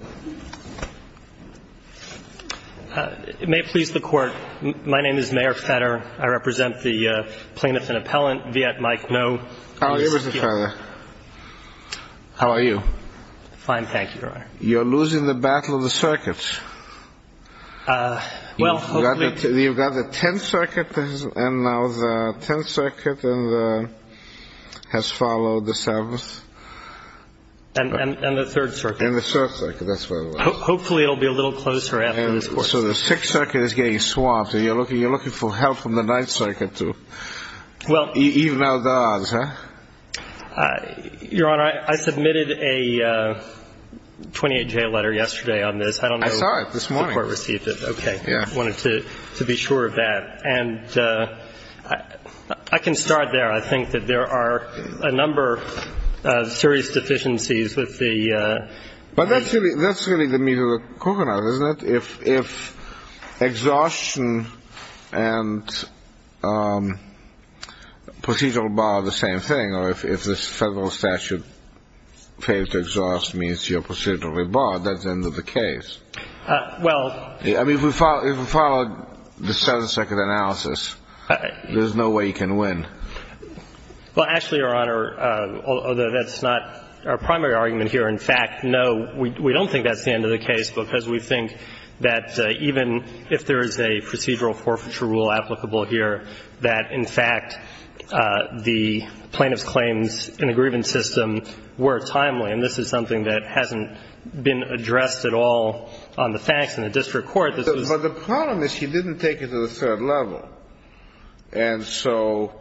May it please the Court, my name is Mayor Fetter. I represent the plaintiff and appellant, Viet Mike Ngo. How are you, Mr. Fetter? How are you? Fine, thank you, Your Honor. You're losing the battle of the circuits. Well, hopefully... You've got the Tenth Circuit, and now the Tenth Circuit has followed the Seventh. And the Third Circuit. And the Third Circuit, that's right. Hopefully it'll be a little closer after this Court. So the Sixth Circuit is getting swamped, and you're looking for help from the Ninth Circuit to even out the odds, huh? Your Honor, I submitted a 28-J letter yesterday on this. I don't know... I saw it this morning. The Court received it. Okay. I wanted to be sure of that. And I can start there. I think that there are a number of serious deficiencies with the... But that's really the meat of the coconut, isn't it? If exhaustion and procedural bar are the same thing, or if this federal statute fails to exhaust means you're procedurally barred, that's the end of the case. Well... I mean, if we follow the Seventh Circuit analysis, there's no way you can win. Well, actually, Your Honor, although that's not our primary argument here. In fact, no, we don't think that's the end of the case, because we think that even if there is a procedural forfeiture rule applicable here, that, in fact, the plaintiff's claims in a grievance system were timely. And this is something that hasn't been addressed at all on the facts in the district court. But the problem is he didn't take it to the third level. And so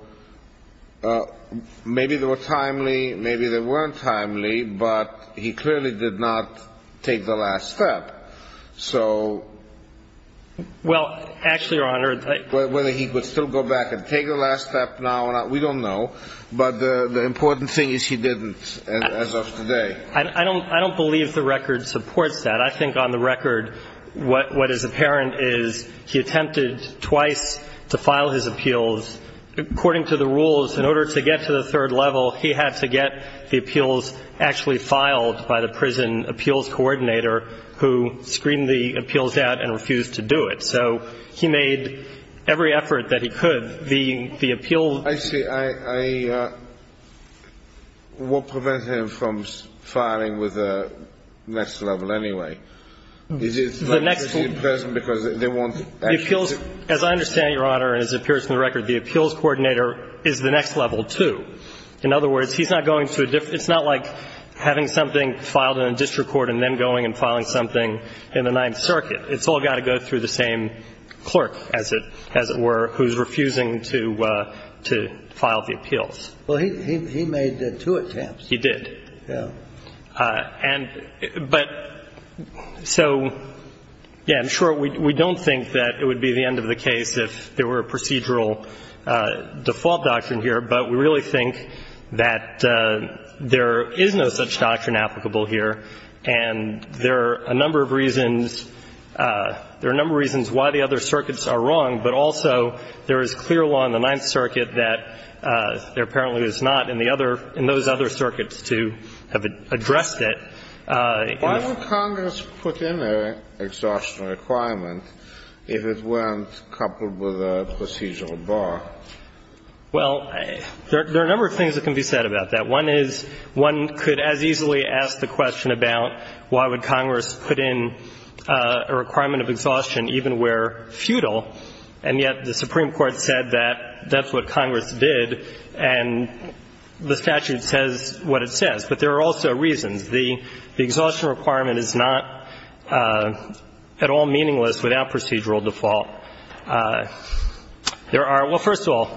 maybe they were timely, maybe they weren't timely, but he clearly did not take the last step. So... Well, actually, Your Honor... Whether he would still go back and take the last step now or not, we don't know. But the important thing is he didn't as of today. I don't believe the record supports that. I think on the record what is apparent is he attempted twice to file his appeals. According to the rules, in order to get to the third level, he had to get the appeals actually filed by the prison appeals coordinator, who screamed the appeals out and refused to do it. So he made every effort that he could. The appeals... I see. I... What prevents him from filing with the next level anyway? Is it... The next level... Because they want... The appeals... As I understand, Your Honor, and this appears in the record, the appeals coordinator is the next level, too. In other words, he's not going to a different... It's not like having something filed in a district court and then going and filing something in the Ninth Circuit. It's all got to go through the same clerk, as it were, who's refusing to file the appeals. Well, he made two attempts. He did. Yeah. And... But... So... Yeah, I'm sure we don't think that it would be the end of the case if there were a procedural default doctrine here, but we really think that there is no such doctrine applicable here, and there are a number of reasons why the other circuits are wrong, but also there is clear law in the Ninth Circuit that there apparently is not in those other circuits to have addressed it. Why would Congress put in an exhaustion requirement if it weren't coupled with a procedural bar? Well, there are a number of things that can be said about that. One is one could as easily ask the question about why would Congress put in a requirement of exhaustion even where futile, and yet the Supreme Court said that that's what Congress did, and the statute says what it says. But there are also reasons. The exhaustion requirement is not at all meaningless without procedural default. There are – well, first of all,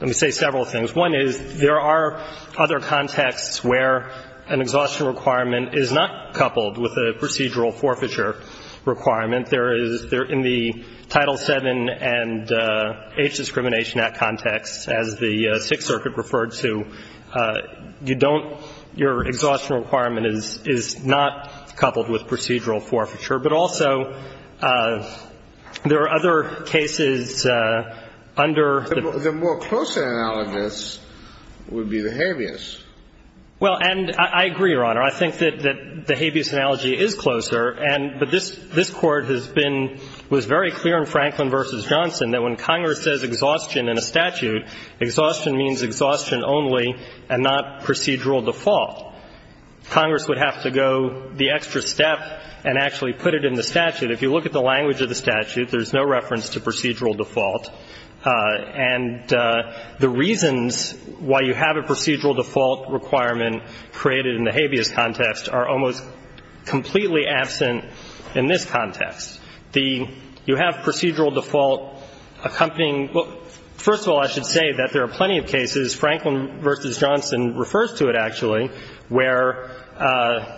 let me say several things. One is there are other contexts where an exhaustion requirement is not coupled with a procedural forfeiture requirement. There is – in the Title VII and H Discrimination Act context, as the Sixth Circuit referred to, you don't – your exhaustion requirement is not coupled with procedural forfeiture, but also there are other cases under the... The other case would be the habeas. Well, and I agree, Your Honor. I think that the habeas analogy is closer, and – but this Court has been – was very clear in Franklin v. Johnson that when Congress says exhaustion in a statute, exhaustion means exhaustion only and not procedural default. Congress would have to go the extra step and actually put it in the statute. If you look at the language of the statute, there's no reference to procedural default. And the reasons why you have a procedural default requirement created in the habeas context are almost completely absent in this context. The – you have procedural default accompanying – well, first of all, I should say that there are plenty of cases, Franklin v. Johnson refers to it, actually, where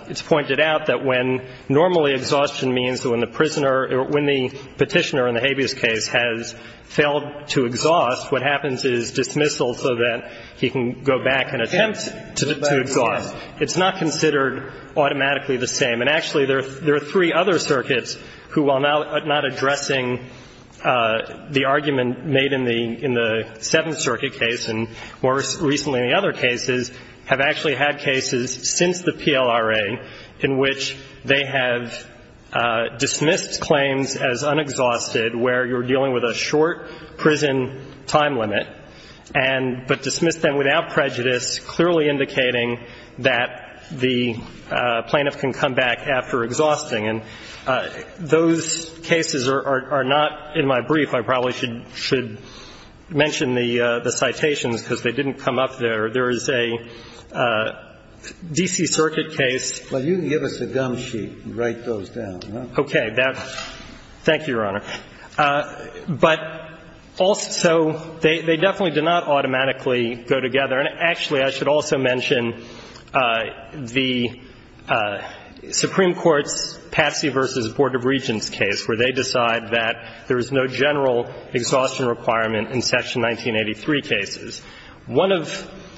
it's pointed out that when normally exhaustion means that when the prisoner or when the petitioner in the habeas case has failed to exhaust, what happens is dismissal so that he can go back and attempt to exhaust. It's not considered automatically the same. And actually, there are three other circuits who, while not addressing the argument made in the Seventh Circuit case and more recently in the other cases, have actually had cases since the PLRA in which they have dismissed claims as unexhausted where you're dealing with a short prison time limit and – but dismissed them without prejudice, clearly indicating that the plaintiff can come back after exhausting. And those cases are not in my brief. I probably should mention the citations because they didn't come up there. There is a D.C. Circuit case. Well, you can give us a gum sheet and write those down. Thank you, Your Honor. But also, they definitely do not automatically go together. And actually, I should also mention the Supreme Court's Patsy v. Board of Regents case where they decide that there is no general exhaustion requirement in Section 1983 cases. One of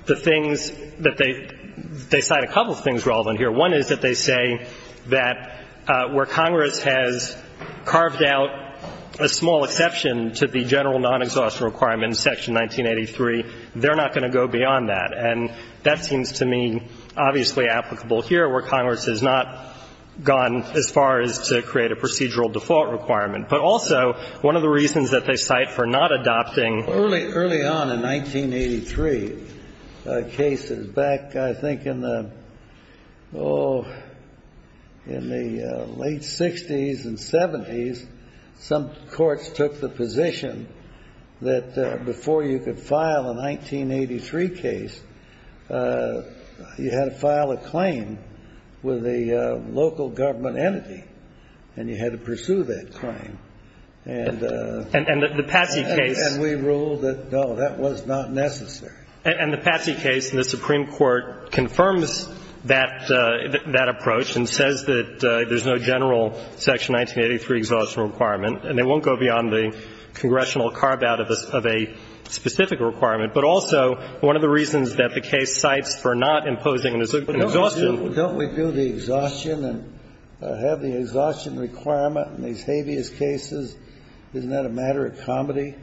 the things that they – they cite a couple of things relevant here. One is that they say that where Congress has carved out a small exception to the general non-exhaustion requirement in Section 1983, they're not going to go beyond that. And that seems to me obviously applicable here where Congress has not gone as far as to create a procedural default requirement. But also, one of the reasons that they cite for not adopting – 1983 cases. Back, I think, in the – oh, in the late 60s and 70s, some courts took the position that before you could file a 1983 case, you had to file a claim with a local government entity, and you had to pursue that claim. And the Patsy case. And we ruled that, no, that was not necessary. And the Patsy case in the Supreme Court confirms that approach and says that there's no general Section 1983 exhaustion requirement, and they won't go beyond the congressional carve-out of a specific requirement. But also, one of the reasons that the case cites for not imposing an exhaustion. Don't we do the exhaustion and have the exhaustion requirement in these habeas cases? Isn't that a matter of comedy?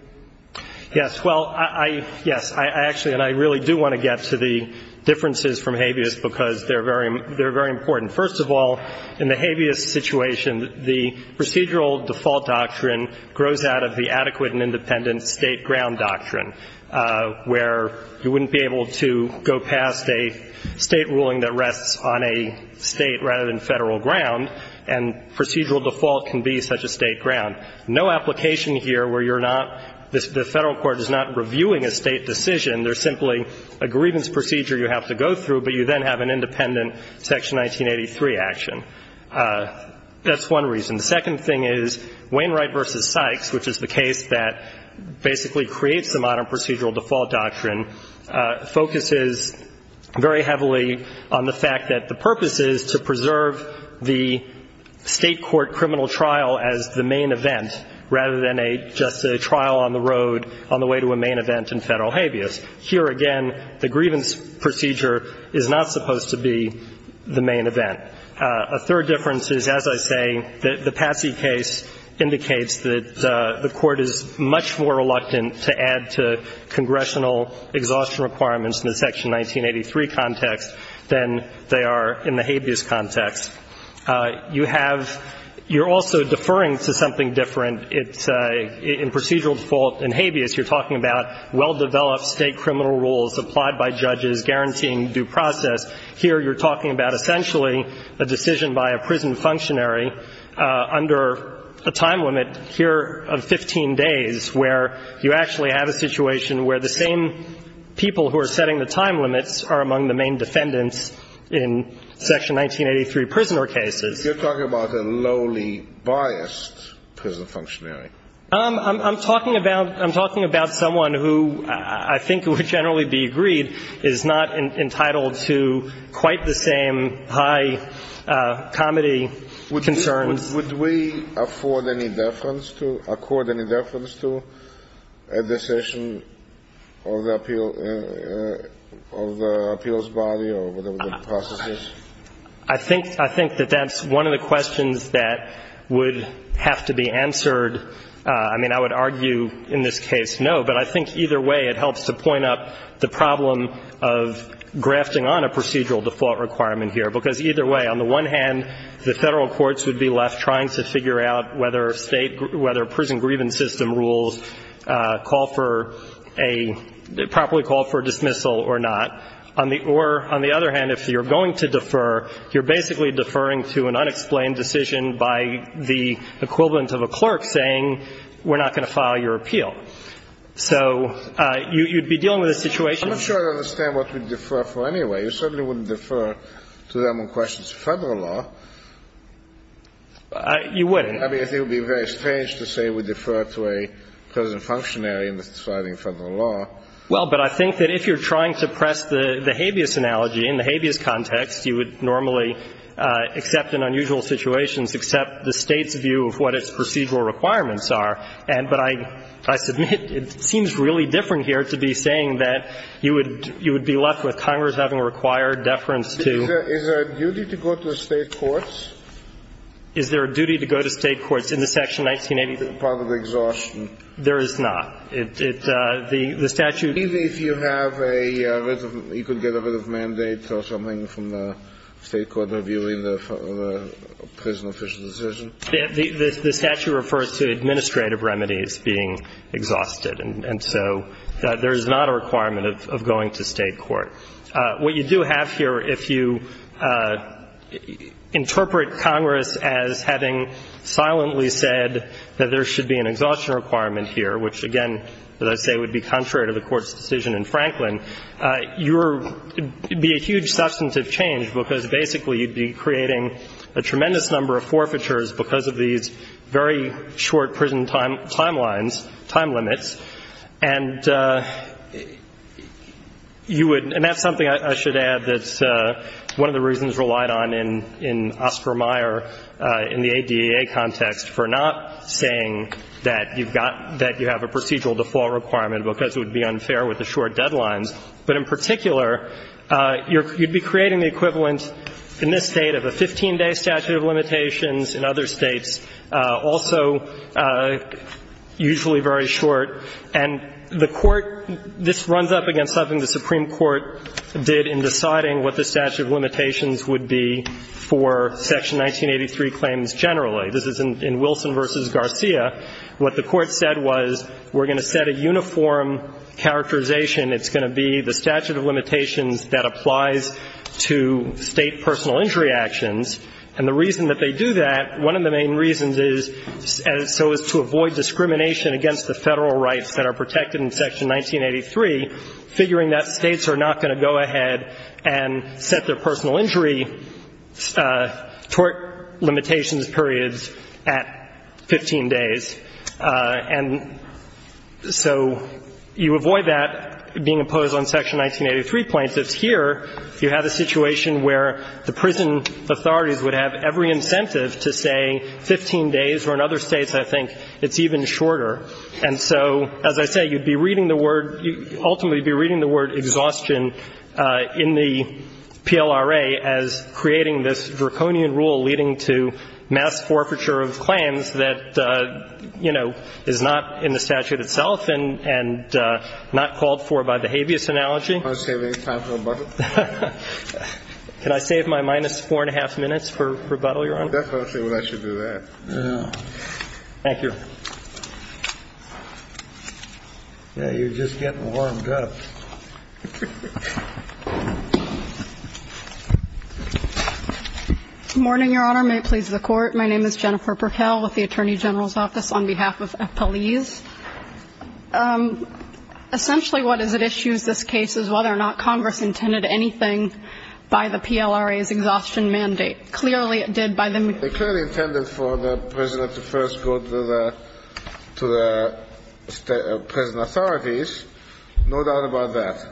Yes. Well, I – yes. I actually – and I really do want to get to the differences from habeas because they're very – they're very important. First of all, in the habeas situation, the procedural default doctrine grows out of the adequate and independent state ground doctrine, where you wouldn't be able to go past a state ruling that rests on a state rather than federal ground. And procedural default can be such a state ground. No application here where you're not – the federal court is not reviewing a state decision. There's simply a grievance procedure you have to go through, but you then have an independent Section 1983 action. That's one reason. The second thing is Wainwright v. Sykes, which is the case that basically creates the modern procedural default doctrine, focuses very heavily on the fact that the state court criminal trial as the main event rather than a – just a trial on the road on the way to a main event in federal habeas. Here, again, the grievance procedure is not supposed to be the main event. A third difference is, as I say, the Patsy case indicates that the court is much more reluctant to add to congressional exhaustion requirements in the Section 1983 context than they are in the habeas context. You have – you're also deferring to something different. In procedural default in habeas, you're talking about well-developed state criminal rules applied by judges guaranteeing due process. Here you're talking about essentially a decision by a prison functionary under a time limit here of 15 days where you actually have a situation where the same people who are setting the time limits are among the main defendants in Section 1983 prisoner cases. You're talking about a lowly biased prison functionary. I'm talking about – I'm talking about someone who I think would generally be agreed is not entitled to quite the same high comedy concerns. Would we afford any deference to – accord any deference to a decision of the appeal – of the appeals body or whatever the process is? I think – I think that that's one of the questions that would have to be answered. I mean, I would argue in this case no, but I think either way it helps to point up the problem of grafting on a procedural default requirement here, because either way, on the one hand, the Federal courts would be left trying to figure out whether state – whether prison grievance system rules call for a – properly call for a dismissal or not, or on the other hand, if you're going to defer, you're basically deferring to an unexplained decision by the equivalent of a clerk saying, we're not going to file your appeal. So you'd be dealing with a situation – You certainly wouldn't defer to them on questions of Federal law. You wouldn't. I mean, I think it would be very strange to say we defer to a prison functionary in deciding Federal law. Well, but I think that if you're trying to press the habeas analogy, in the habeas context, you would normally, except in unusual situations, accept the State's view of what its procedural requirements are. But I – I submit it seems really different here to be saying that you would – you would be having a required deference to – Is there a duty to go to State courts? Is there a duty to go to State courts in the Section 1985? Part of the exhaustion. There is not. It – the statute – Maybe if you have a – you could get a writ of mandate or something from the State court reviewing the prison official decision. The statute refers to administrative remedies being exhausted. And so there is not a requirement of going to State court. What you do have here, if you interpret Congress as having silently said that there should be an exhaustion requirement here, which, again, as I say, would be contrary to the Court's decision in Franklin, you're – it would be a huge substantive change because basically you'd be creating a tremendous number of forfeitures because of these very short prison timelines – time limits. And you would – and that's something I should add that's one of the reasons relied on in – in Oscar Meyer in the ADA context for not saying that you've got – that you have a procedural default requirement because it would be unfair with the short deadlines. But in particular, you'd be creating the equivalent in this State of a 15-day statute of limitations in other States, also usually very short. And the Court – this runs up against something the Supreme Court did in deciding what the statute of limitations would be for Section 1983 claims generally. This is in Wilson v. Garcia. What the Court said was we're going to set a uniform characterization. It's going to be the statute of limitations that applies to State personal injury actions. And the reason that they do that, one of the main reasons is so as to avoid discrimination against the Federal rights that are protected in Section 1983, figuring that States are not going to go ahead and set their personal injury tort limitations periods at 15 days. And so you avoid that being imposed on Section 1983 plaintiffs. Here, you have a situation where the prison authorities would have every incentive to say 15 days, where in other States I think it's even shorter. And so, as I say, you'd be reading the word – you'd ultimately be reading the word exhaustion in the PLRA as creating this draconian rule leading to mass forfeiture of claims that, you know, is not in the statute itself and not called for by the habeas analogy. Do you want to save any time for rebuttal? Can I save my minus four and a half minutes for rebuttal, Your Honor? I definitely think I should do that. Thank you. Yeah, you're just getting warmed up. Good morning, Your Honor. May it please the Court. My name is Jennifer Burkell with the Attorney General's Office on behalf of FPLES. Essentially, what is at issue in this case is whether or not Congress intended anything by the PLRA's exhaustion mandate. Clearly, it did by the – It clearly intended for the prisoner to first go to the – to the prison authorities. No doubt about that.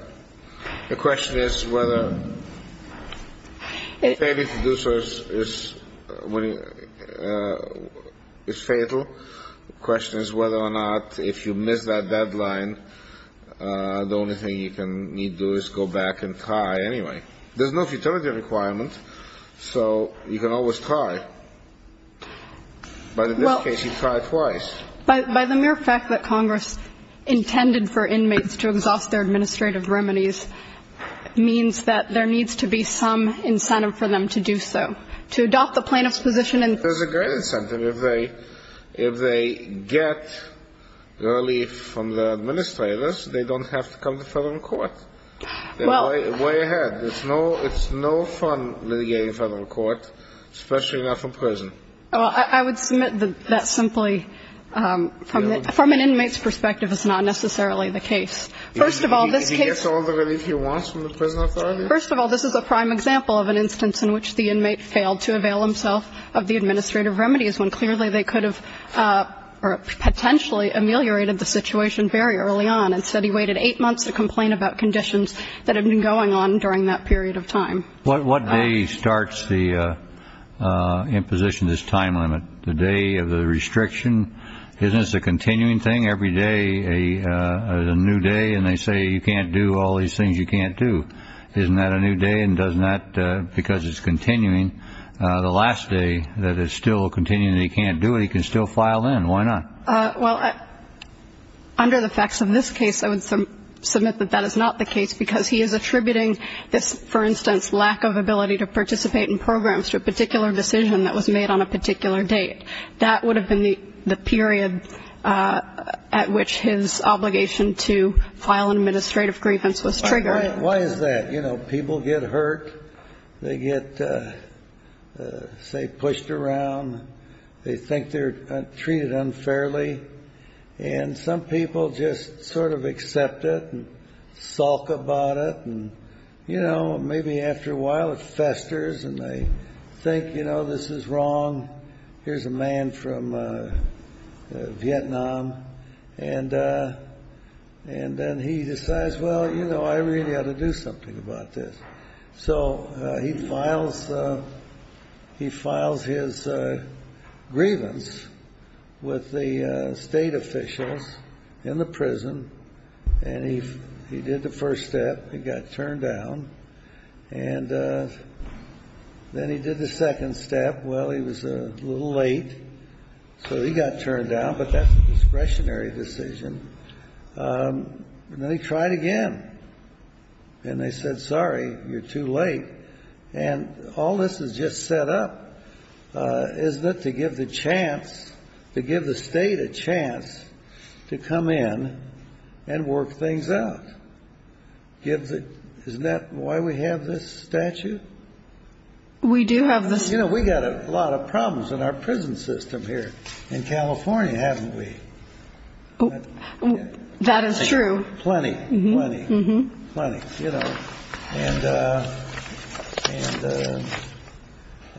The question is whether failing to do so is – is fatal. The question is whether or not if you miss that deadline, the only thing you can need to do is go back and try anyway. There's no futility requirement, so you can always try. But in this case, you tried twice. Well, by the mere fact that Congress intended for inmates to exhaust their administrative remedies means that there needs to be some incentive for them to do so, to adopt the plaintiff's position and – There's a great incentive. If they – if they get relief from the administrators, they don't have to come to federal court. Well – They're way ahead. It's no – it's no fun litigating federal court, especially not from prison. Well, I would submit that that's simply – from an inmate's perspective, it's not necessarily the case. First of all, this case – If he gets all the relief he wants from the prison authorities? First of all, this is a prime example of an instance in which the inmate failed to avail himself of the administrative remedies when clearly they could have potentially ameliorated the situation very early on. Instead, he waited eight months to complain about conditions that had been going on during that period of time. What day starts the imposition of this time limit? The day of the restriction? Isn't this a continuing thing? Every day is a new day, and they say you can't do all these things you can't do. Isn't that a new day? And doesn't that – because it's continuing. The last day that it's still continuing that he can't do it, he can still file in. Why not? Well, under the facts of this case, I would submit that that is not the case, because he is attributing this, for instance, lack of ability to participate in programs to a particular decision that was made on a particular date. That would have been the period at which his obligation to file an administrative grievance was triggered. Why is that? You know, people get hurt. They get, say, pushed around. They think they're treated unfairly. And some people just sort of accept it and sulk about it. And, you know, maybe after a while it festers, and they think, you know, this is wrong. Here's a man from Vietnam. And then he decides, well, you know, I really ought to do something about this. So he files his grievance with the state officials in the prison, and he did the first step. He got turned down. And then he did the second step. Well, he was a little late, so he got turned down, but that's a discretionary decision. And then he tried again. And they said, sorry, you're too late. And all this is just set up, isn't it, to give the chance, to give the state a chance to come in and work things out. Isn't that why we have this statute? We do have the statute. You know, we've got a lot of problems in our prison system here in California, haven't we? That is true. Plenty, plenty, plenty, you know. And,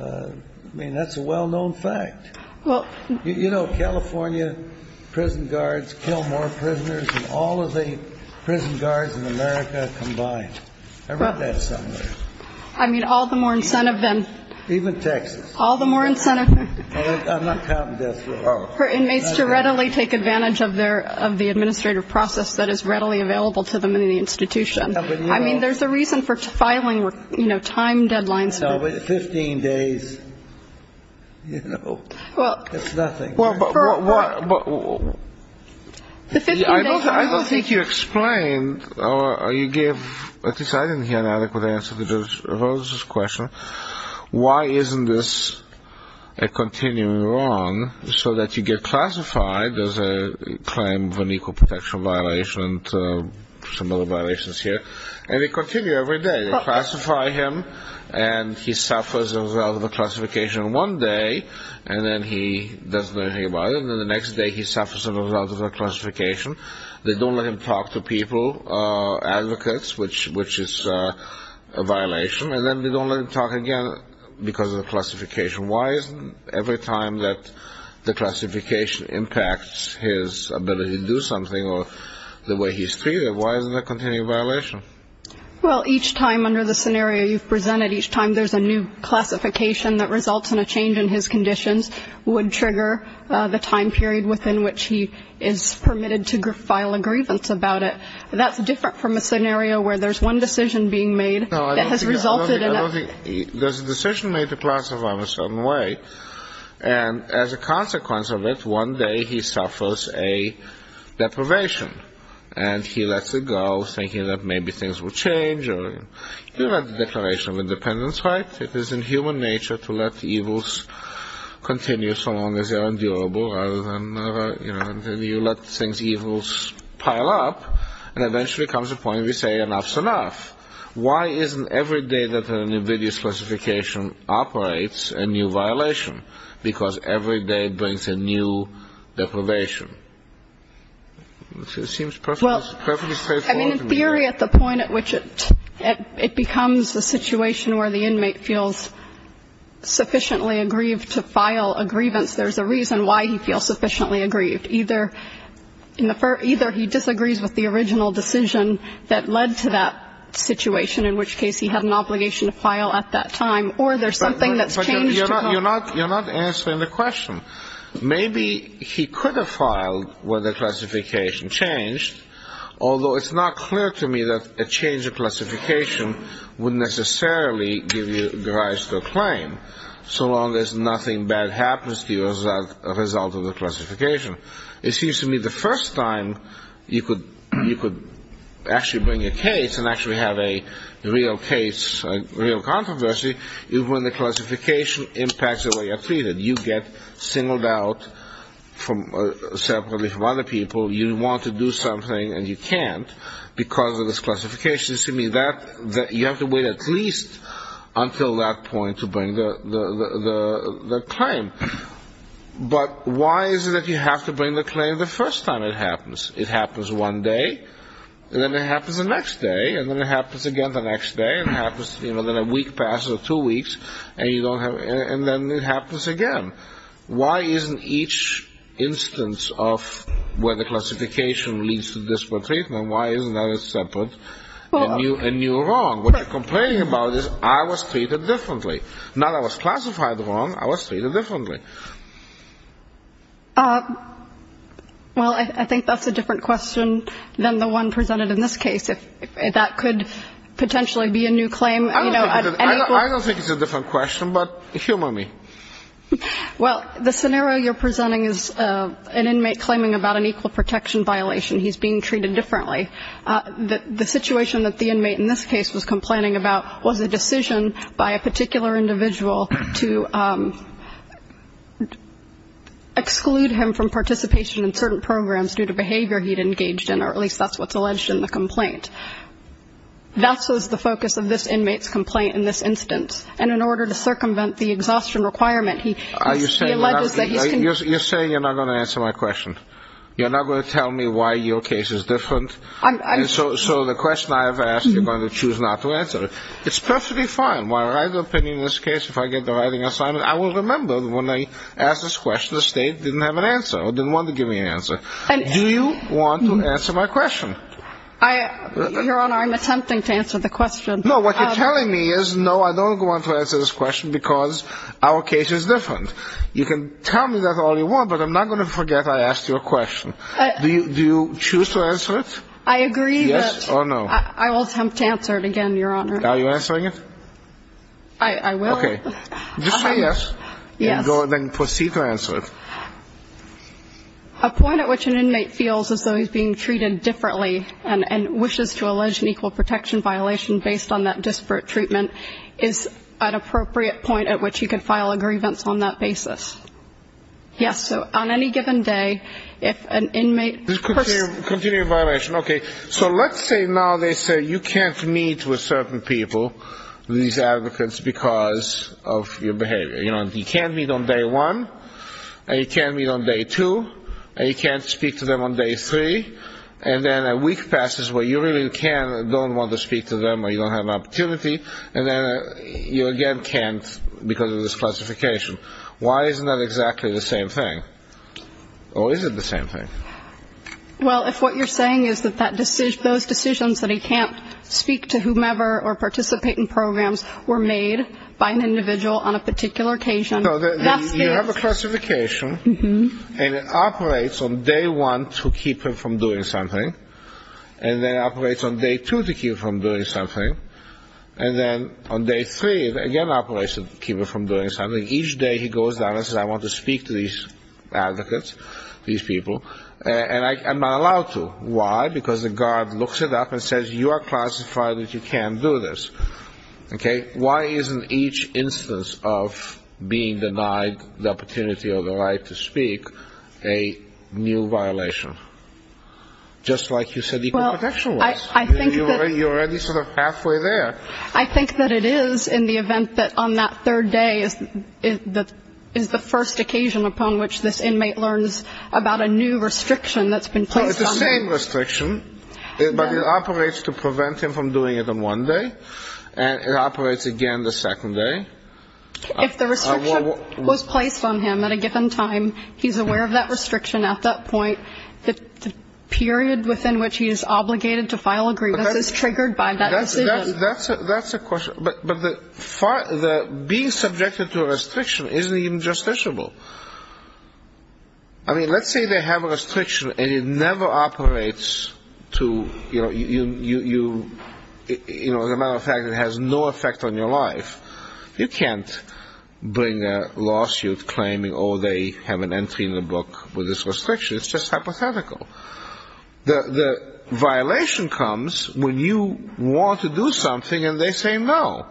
I mean, that's a well-known fact. You know, California prison guards kill more prisoners than all of the prison guards in America combined. I read that somewhere. I mean, all the more incentive than... Even Texas. All the more incentive... I'm not counting death row.... for inmates to readily take advantage of their, of the administrative process that is readily available to them in the institution. I mean, there's a reason for filing, you know, time deadlines. No, but 15 days, you know, it's nothing. I don't think you explained or you gave, at least I didn't hear an adequate answer to Judge Rose's question, why isn't this a continuing wrong so that you get classified as a claim of an equal protection violation and some other violations here, and they continue every day. They classify him and he suffers as a result of the classification one day and then he doesn't know anything about it. And then the next day he suffers as a result of the classification. They don't let him talk to people, advocates, which is a violation. And then they don't let him talk again because of the classification. Why isn't every time that the classification impacts his ability to do something or the way he's treated, why isn't that a continuing violation? Well, each time under the scenario you've presented, each time there's a new classification that results in a change in his conditions would trigger the time period within which he is permitted to file a grievance about it. That's different from a scenario where there's one decision being made that has resulted in a ---- There's a decision made to classify him a certain way. And as a consequence of it, one day he suffers a deprivation. And he lets it go, thinking that maybe things will change. You read the Declaration of Independence, right? It is in human nature to let evils continue so long as they are endurable. You let things, evils, pile up, and eventually comes a point where you say enough's enough. Why isn't every day that a new video specification operates a new violation? Because every day brings a new deprivation. It seems perfectly straightforward to me. Well, I mean, in theory, at the point at which it becomes a situation where the inmate feels sufficiently aggrieved to file a grievance, there's a reason why he feels sufficiently aggrieved. Either he disagrees with the original decision that led to that situation, in which case he had an obligation to file at that time, or there's something that's changed to come. Well, you're not answering the question. Maybe he could have filed when the classification changed, although it's not clear to me that a change of classification would necessarily give you the right to claim, so long as nothing bad happens to you as a result of the classification. It seems to me the first time you could actually bring a case and actually have a real case, a real controversy, is when the classification impacts the way you're treated. You get singled out separately from other people. You want to do something, and you can't because of this classification. It seems to me that you have to wait at least until that point to bring the claim. But why is it that you have to bring the claim the first time it happens? It happens one day, and then it happens the next day, and then it happens again the next day, and then a week passes or two weeks, and then it happens again. Why isn't each instance of where the classification leads to disparate treatment, why isn't that separate and you're wrong? What you're complaining about is I was treated differently. Not I was classified wrong, I was treated differently. Well, I think that's a different question than the one presented in this case. That could potentially be a new claim. I don't think it's a different question, but humor me. Well, the scenario you're presenting is an inmate claiming about an equal protection violation. He's being treated differently. The situation that the inmate in this case was complaining about was a decision by a particular individual to exclude him from participation in certain programs due to behavior he'd engaged in, or at least that's what's alleged in the complaint. That's the focus of this inmate's complaint in this instance. And in order to circumvent the exhaustion requirement, he alleges that he's been ---- You're saying you're not going to answer my question. You're not going to tell me why your case is different. So the question I have asked, you're going to choose not to answer it. It's perfectly fine. My right of opinion in this case, if I get the right of assignment, I will remember when I asked this question, the State didn't have an answer or didn't want to give me an answer. Do you want to answer my question? Your Honor, I'm attempting to answer the question. No, what you're telling me is, no, I don't want to answer this question because our case is different. You can tell me that all you want, but I'm not going to forget I asked you a question. Do you choose to answer it? I agree that I will attempt to answer it again, Your Honor. Are you answering it? I will. Okay. Just say yes. Yes. Then proceed to answer it. A point at which an inmate feels as though he's being treated differently and wishes to allege an equal protection violation based on that disparate treatment is an appropriate point at which he can file a grievance on that basis. Yes. So on any given day, if an inmate questions you. Continue your violation. Okay. So let's say now they say you can't meet with certain people, these advocates, because of your behavior. You know, you can meet on day one, and you can meet on day two, and you can't speak to them on day three, and then a week passes where you really can and don't want to speak to them or you don't have an opportunity, and then you again can't because of this classification. Why isn't that exactly the same thing? Or is it the same thing? Well, if what you're saying is that those decisions that he can't speak to whomever or participate in programs were made by an individual on a particular occasion, that's it. You have a classification, and it operates on day one to keep him from doing something, and then it operates on day two to keep him from doing something, and then on day three it again operates to keep him from doing something. Each day he goes down and says I want to speak to these advocates, these people, and I'm not allowed to. Why? Because the guard looks it up and says you are classified that you can't do this. Okay? Why isn't each instance of being denied the opportunity or the right to speak a new violation? Just like you said equal protection was. You're already sort of halfway there. I think that it is in the event that on that third day is the first occasion upon which this inmate learns about a new restriction that's been placed on them. It's the same restriction, but it operates to prevent him from doing it on one day, and it operates again the second day. If the restriction was placed on him at a given time, he's aware of that restriction at that point, the period within which he is obligated to file a grievance is triggered by that decision. That's a question. But being subjected to a restriction isn't even justiciable. I mean, let's say they have a restriction and it never operates to, you know, as a matter of fact it has no effect on your life. You can't bring a lawsuit claiming, oh, they have an entry in the book with this restriction. It's just hypothetical. The violation comes when you want to do something and they say no.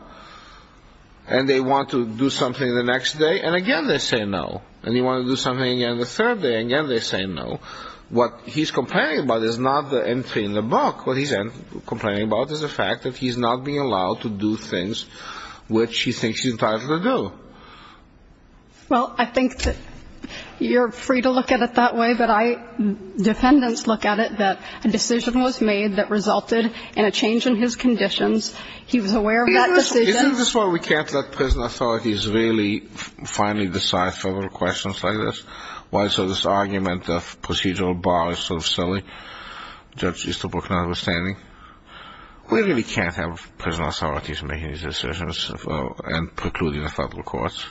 And they want to do something the next day, and again they say no. And you want to do something again the third day, and again they say no. What he's complaining about is not the entry in the book. What he's complaining about is the fact that he's not being allowed to do things which he thinks he's entitled to do. Well, I think that you're free to look at it that way, but defendants look at it that a decision was made that resulted in a change in his conditions. He was aware of that decision. Isn't this why we can't let prison authorities really finally decide federal questions like this? Why is this argument of procedural bar sort of silly, Judge Easterbrook not understanding? We really can't have prison authorities making these decisions and precluding the federal courts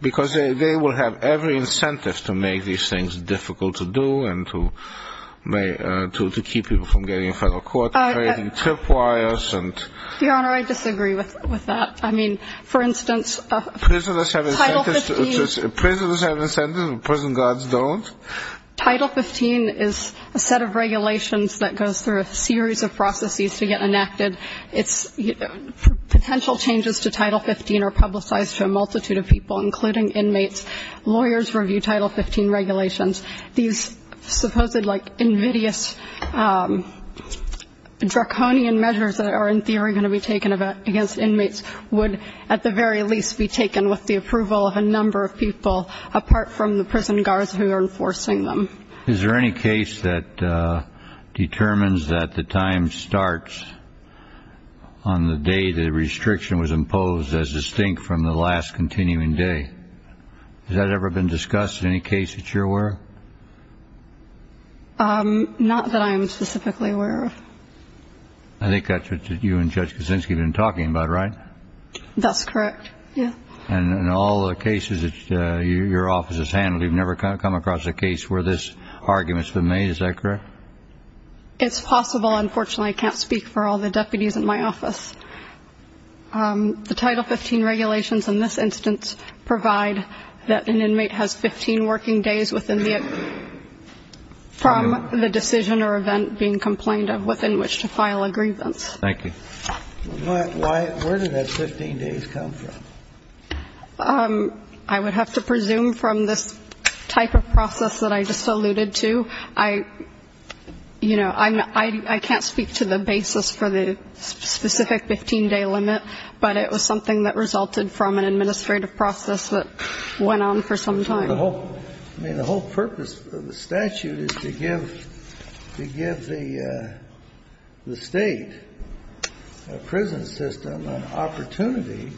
because they will have every incentive to make these things difficult to do and to keep people from getting in federal court, creating tripwires. Your Honor, I disagree with that. I mean, for instance, Title 15. Prisoners have incentives. Prison guards don't. Title 15 is a set of regulations that goes through a series of processes to get enacted. Potential changes to Title 15 are publicized to a multitude of people, including inmates. Lawyers review Title 15 regulations. These supposed like invidious draconian measures that are in theory going to be taken against inmates would at the very least be taken with the approval of a number of people, apart from the prison guards who are enforcing them. Is there any case that determines that the time starts on the day the restriction was imposed as distinct from the last continuing day? Has that ever been discussed in any case that you're aware of? Not that I am specifically aware of. I think that's what you and Judge Kuczynski have been talking about, right? That's correct, yes. And in all the cases that your office has handled, you've never come across a case where this argument's been made, is that correct? It's possible. Unfortunately, I can't speak for all the deputies in my office. The Title 15 regulations in this instance provide that an inmate has 15 working days from the decision or event being complained of within which to file a grievance. Thank you. Where did that 15 days come from? I would have to presume from this type of process that I just alluded to. I can't speak to the basis for the specific 15-day limit, but it was something that resulted from an administrative process that went on for some time. The whole purpose of the statute is to give the State prison system an opportunity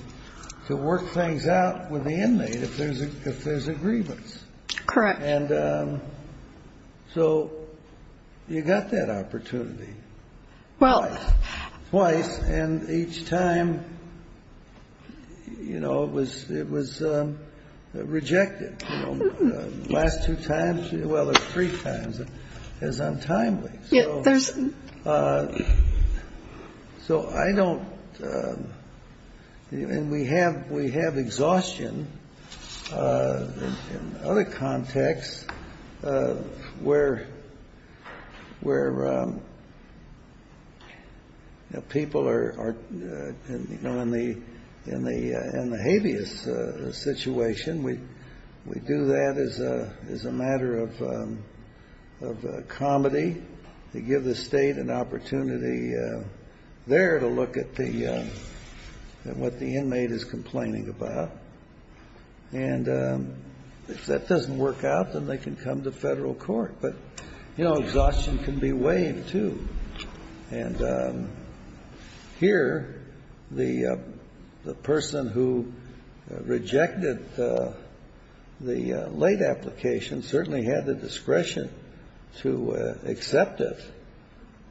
to work things out with the inmate if there's a grievance. Correct. And so you got that opportunity. Well. Twice. And each time, you know, it was rejected. The last two times, well, there's three times. It was untimely. Yeah, there's. So I don't. And we have exhaustion in other contexts where people are, you know, in the habeas situation. We do that as a matter of comedy to give the State an opportunity there to look at what the inmate is complaining about. And if that doesn't work out, then they can come to federal court. But, you know, exhaustion can be waived, too. And here, the person who rejected the late application certainly had the discretion to accept it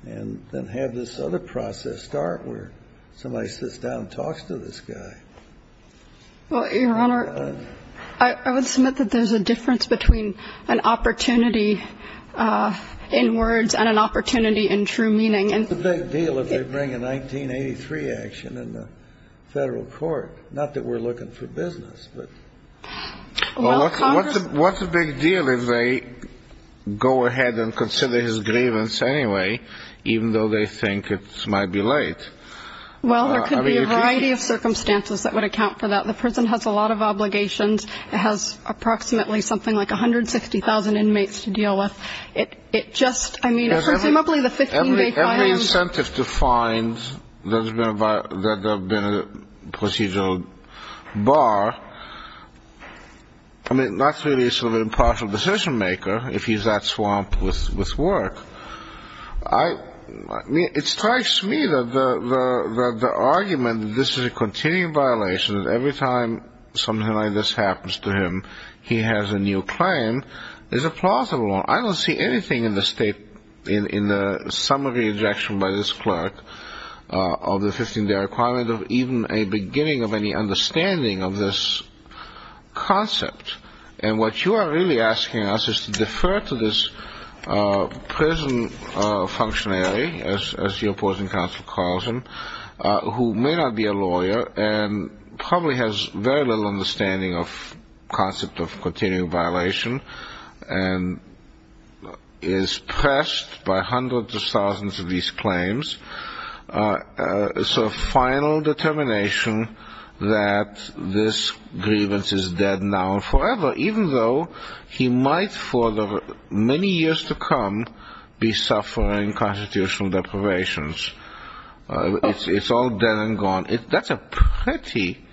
and then have this other process start where somebody sits down and talks to this guy. Well, Your Honor, I would submit that there's a difference between an opportunity in words and an opportunity in true meaning. What's the big deal if they bring a 1983 action in the federal court? Not that we're looking for business, but. Well, what's the big deal if they go ahead and consider his grievance anyway, even though they think it might be late? Well, there could be a variety of circumstances that would account for that. The prison has a lot of obligations. It has approximately something like 160,000 inmates to deal with. It just, I mean, it's presumably the 15-day fine. Every incentive to find that there have been a procedural bar, I mean, that's really sort of an impartial decision maker if he's that swamped with work. I mean, it strikes me that the argument that this is a continuing violation, that every time something like this happens to him, he has a new claim, is a plausible one. I don't see anything in the summary injection by this clerk of the 15-day requirement of even a beginning of any understanding of this concept. And what you are really asking us is to defer to this prison functionary, as your opposing counsel calls him, who may not be a lawyer and probably has very little understanding of the concept of continuing violation and is pressed by hundreds of thousands of these claims, a sort of final determination that this grievance is dead now and forever, even though he might for the many years to come be suffering constitutional deprivations. It's all dead and gone. That's a pretty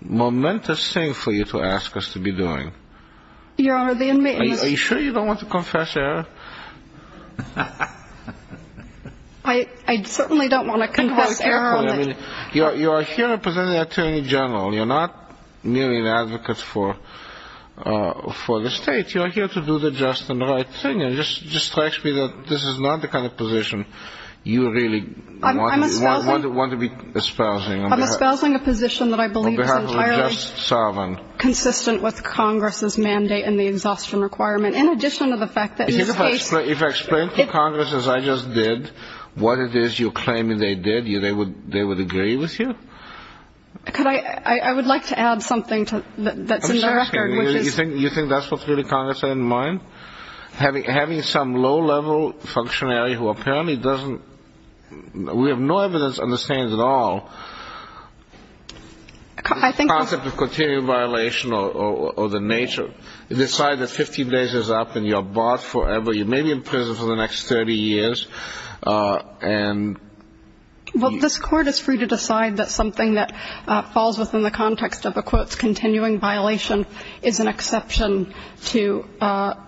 momentous thing for you to ask us to be doing. Your Honor, the inmates... Are you sure you don't want to confess error? I certainly don't want to confess error. You are here representing an attorney general. You're not merely an advocate for the state. You are here to do the just and right thing. It just strikes me that this is not the kind of position you really want to be espousing. I'm espousing a position that I believe is entirely consistent with Congress's mandate and the exhaustion requirement, in addition to the fact that in this case... If I explain to Congress, as I just did, what it is you're claiming they did, they would agree with you? I would like to add something that's in the record, which is... Having some low-level functionary who apparently doesn't... We have no evidence to understand at all the concept of continuing violation or the nature. You decide that 15 days is up and you're barred forever. You may be in prison for the next 30 years and... Well, this Court is free to decide that something that falls within the context of a violation is an exception to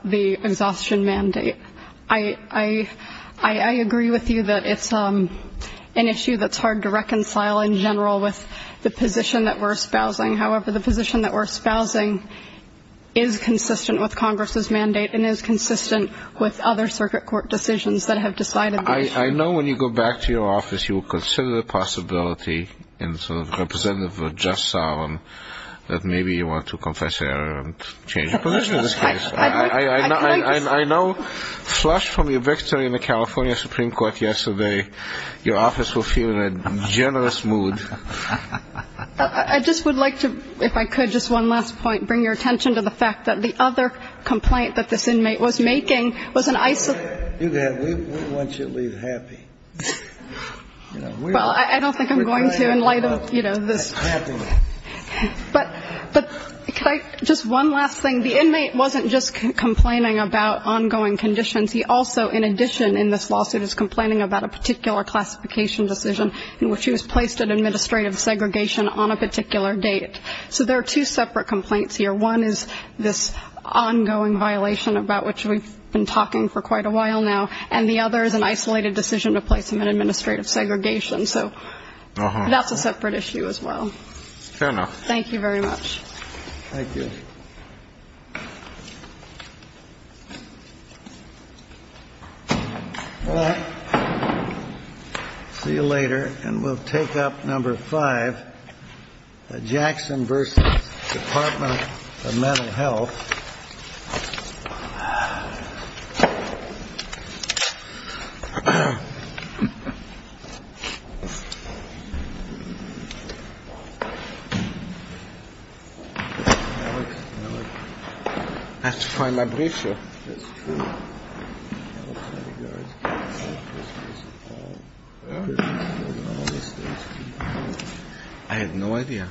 the exhaustion mandate. I agree with you that it's an issue that's hard to reconcile in general with the position that we're espousing. However, the position that we're espousing is consistent with Congress's mandate and is consistent with other circuit court decisions that have decided the issue. I know when you go back to your office, you will consider the possibility, in sort of representative or just solemn, that maybe you want to confess error and change your position in this case. I know, flushed from your victory in the California Supreme Court yesterday, your office will feel in a generous mood. I just would like to, if I could, just one last point, bring your attention to the fact that the other complaint that this inmate was making was an... We want you to leave happy. Well, I don't think I'm going to in light of, you know, this. But just one last thing. The inmate wasn't just complaining about ongoing conditions. He also, in addition in this lawsuit, is complaining about a particular classification decision in which he was placed in administrative segregation on a particular date. So there are two separate complaints here. One is this ongoing violation about which we've been talking for quite a while now, and the other is an isolated decision to place him in administrative segregation. So that's a separate issue as well. Fair enough. Thank you very much. Thank you. All right. See you later. And we'll take up number five. Jackson versus Department of Mental Health. I have to find my briefs here. I have no idea.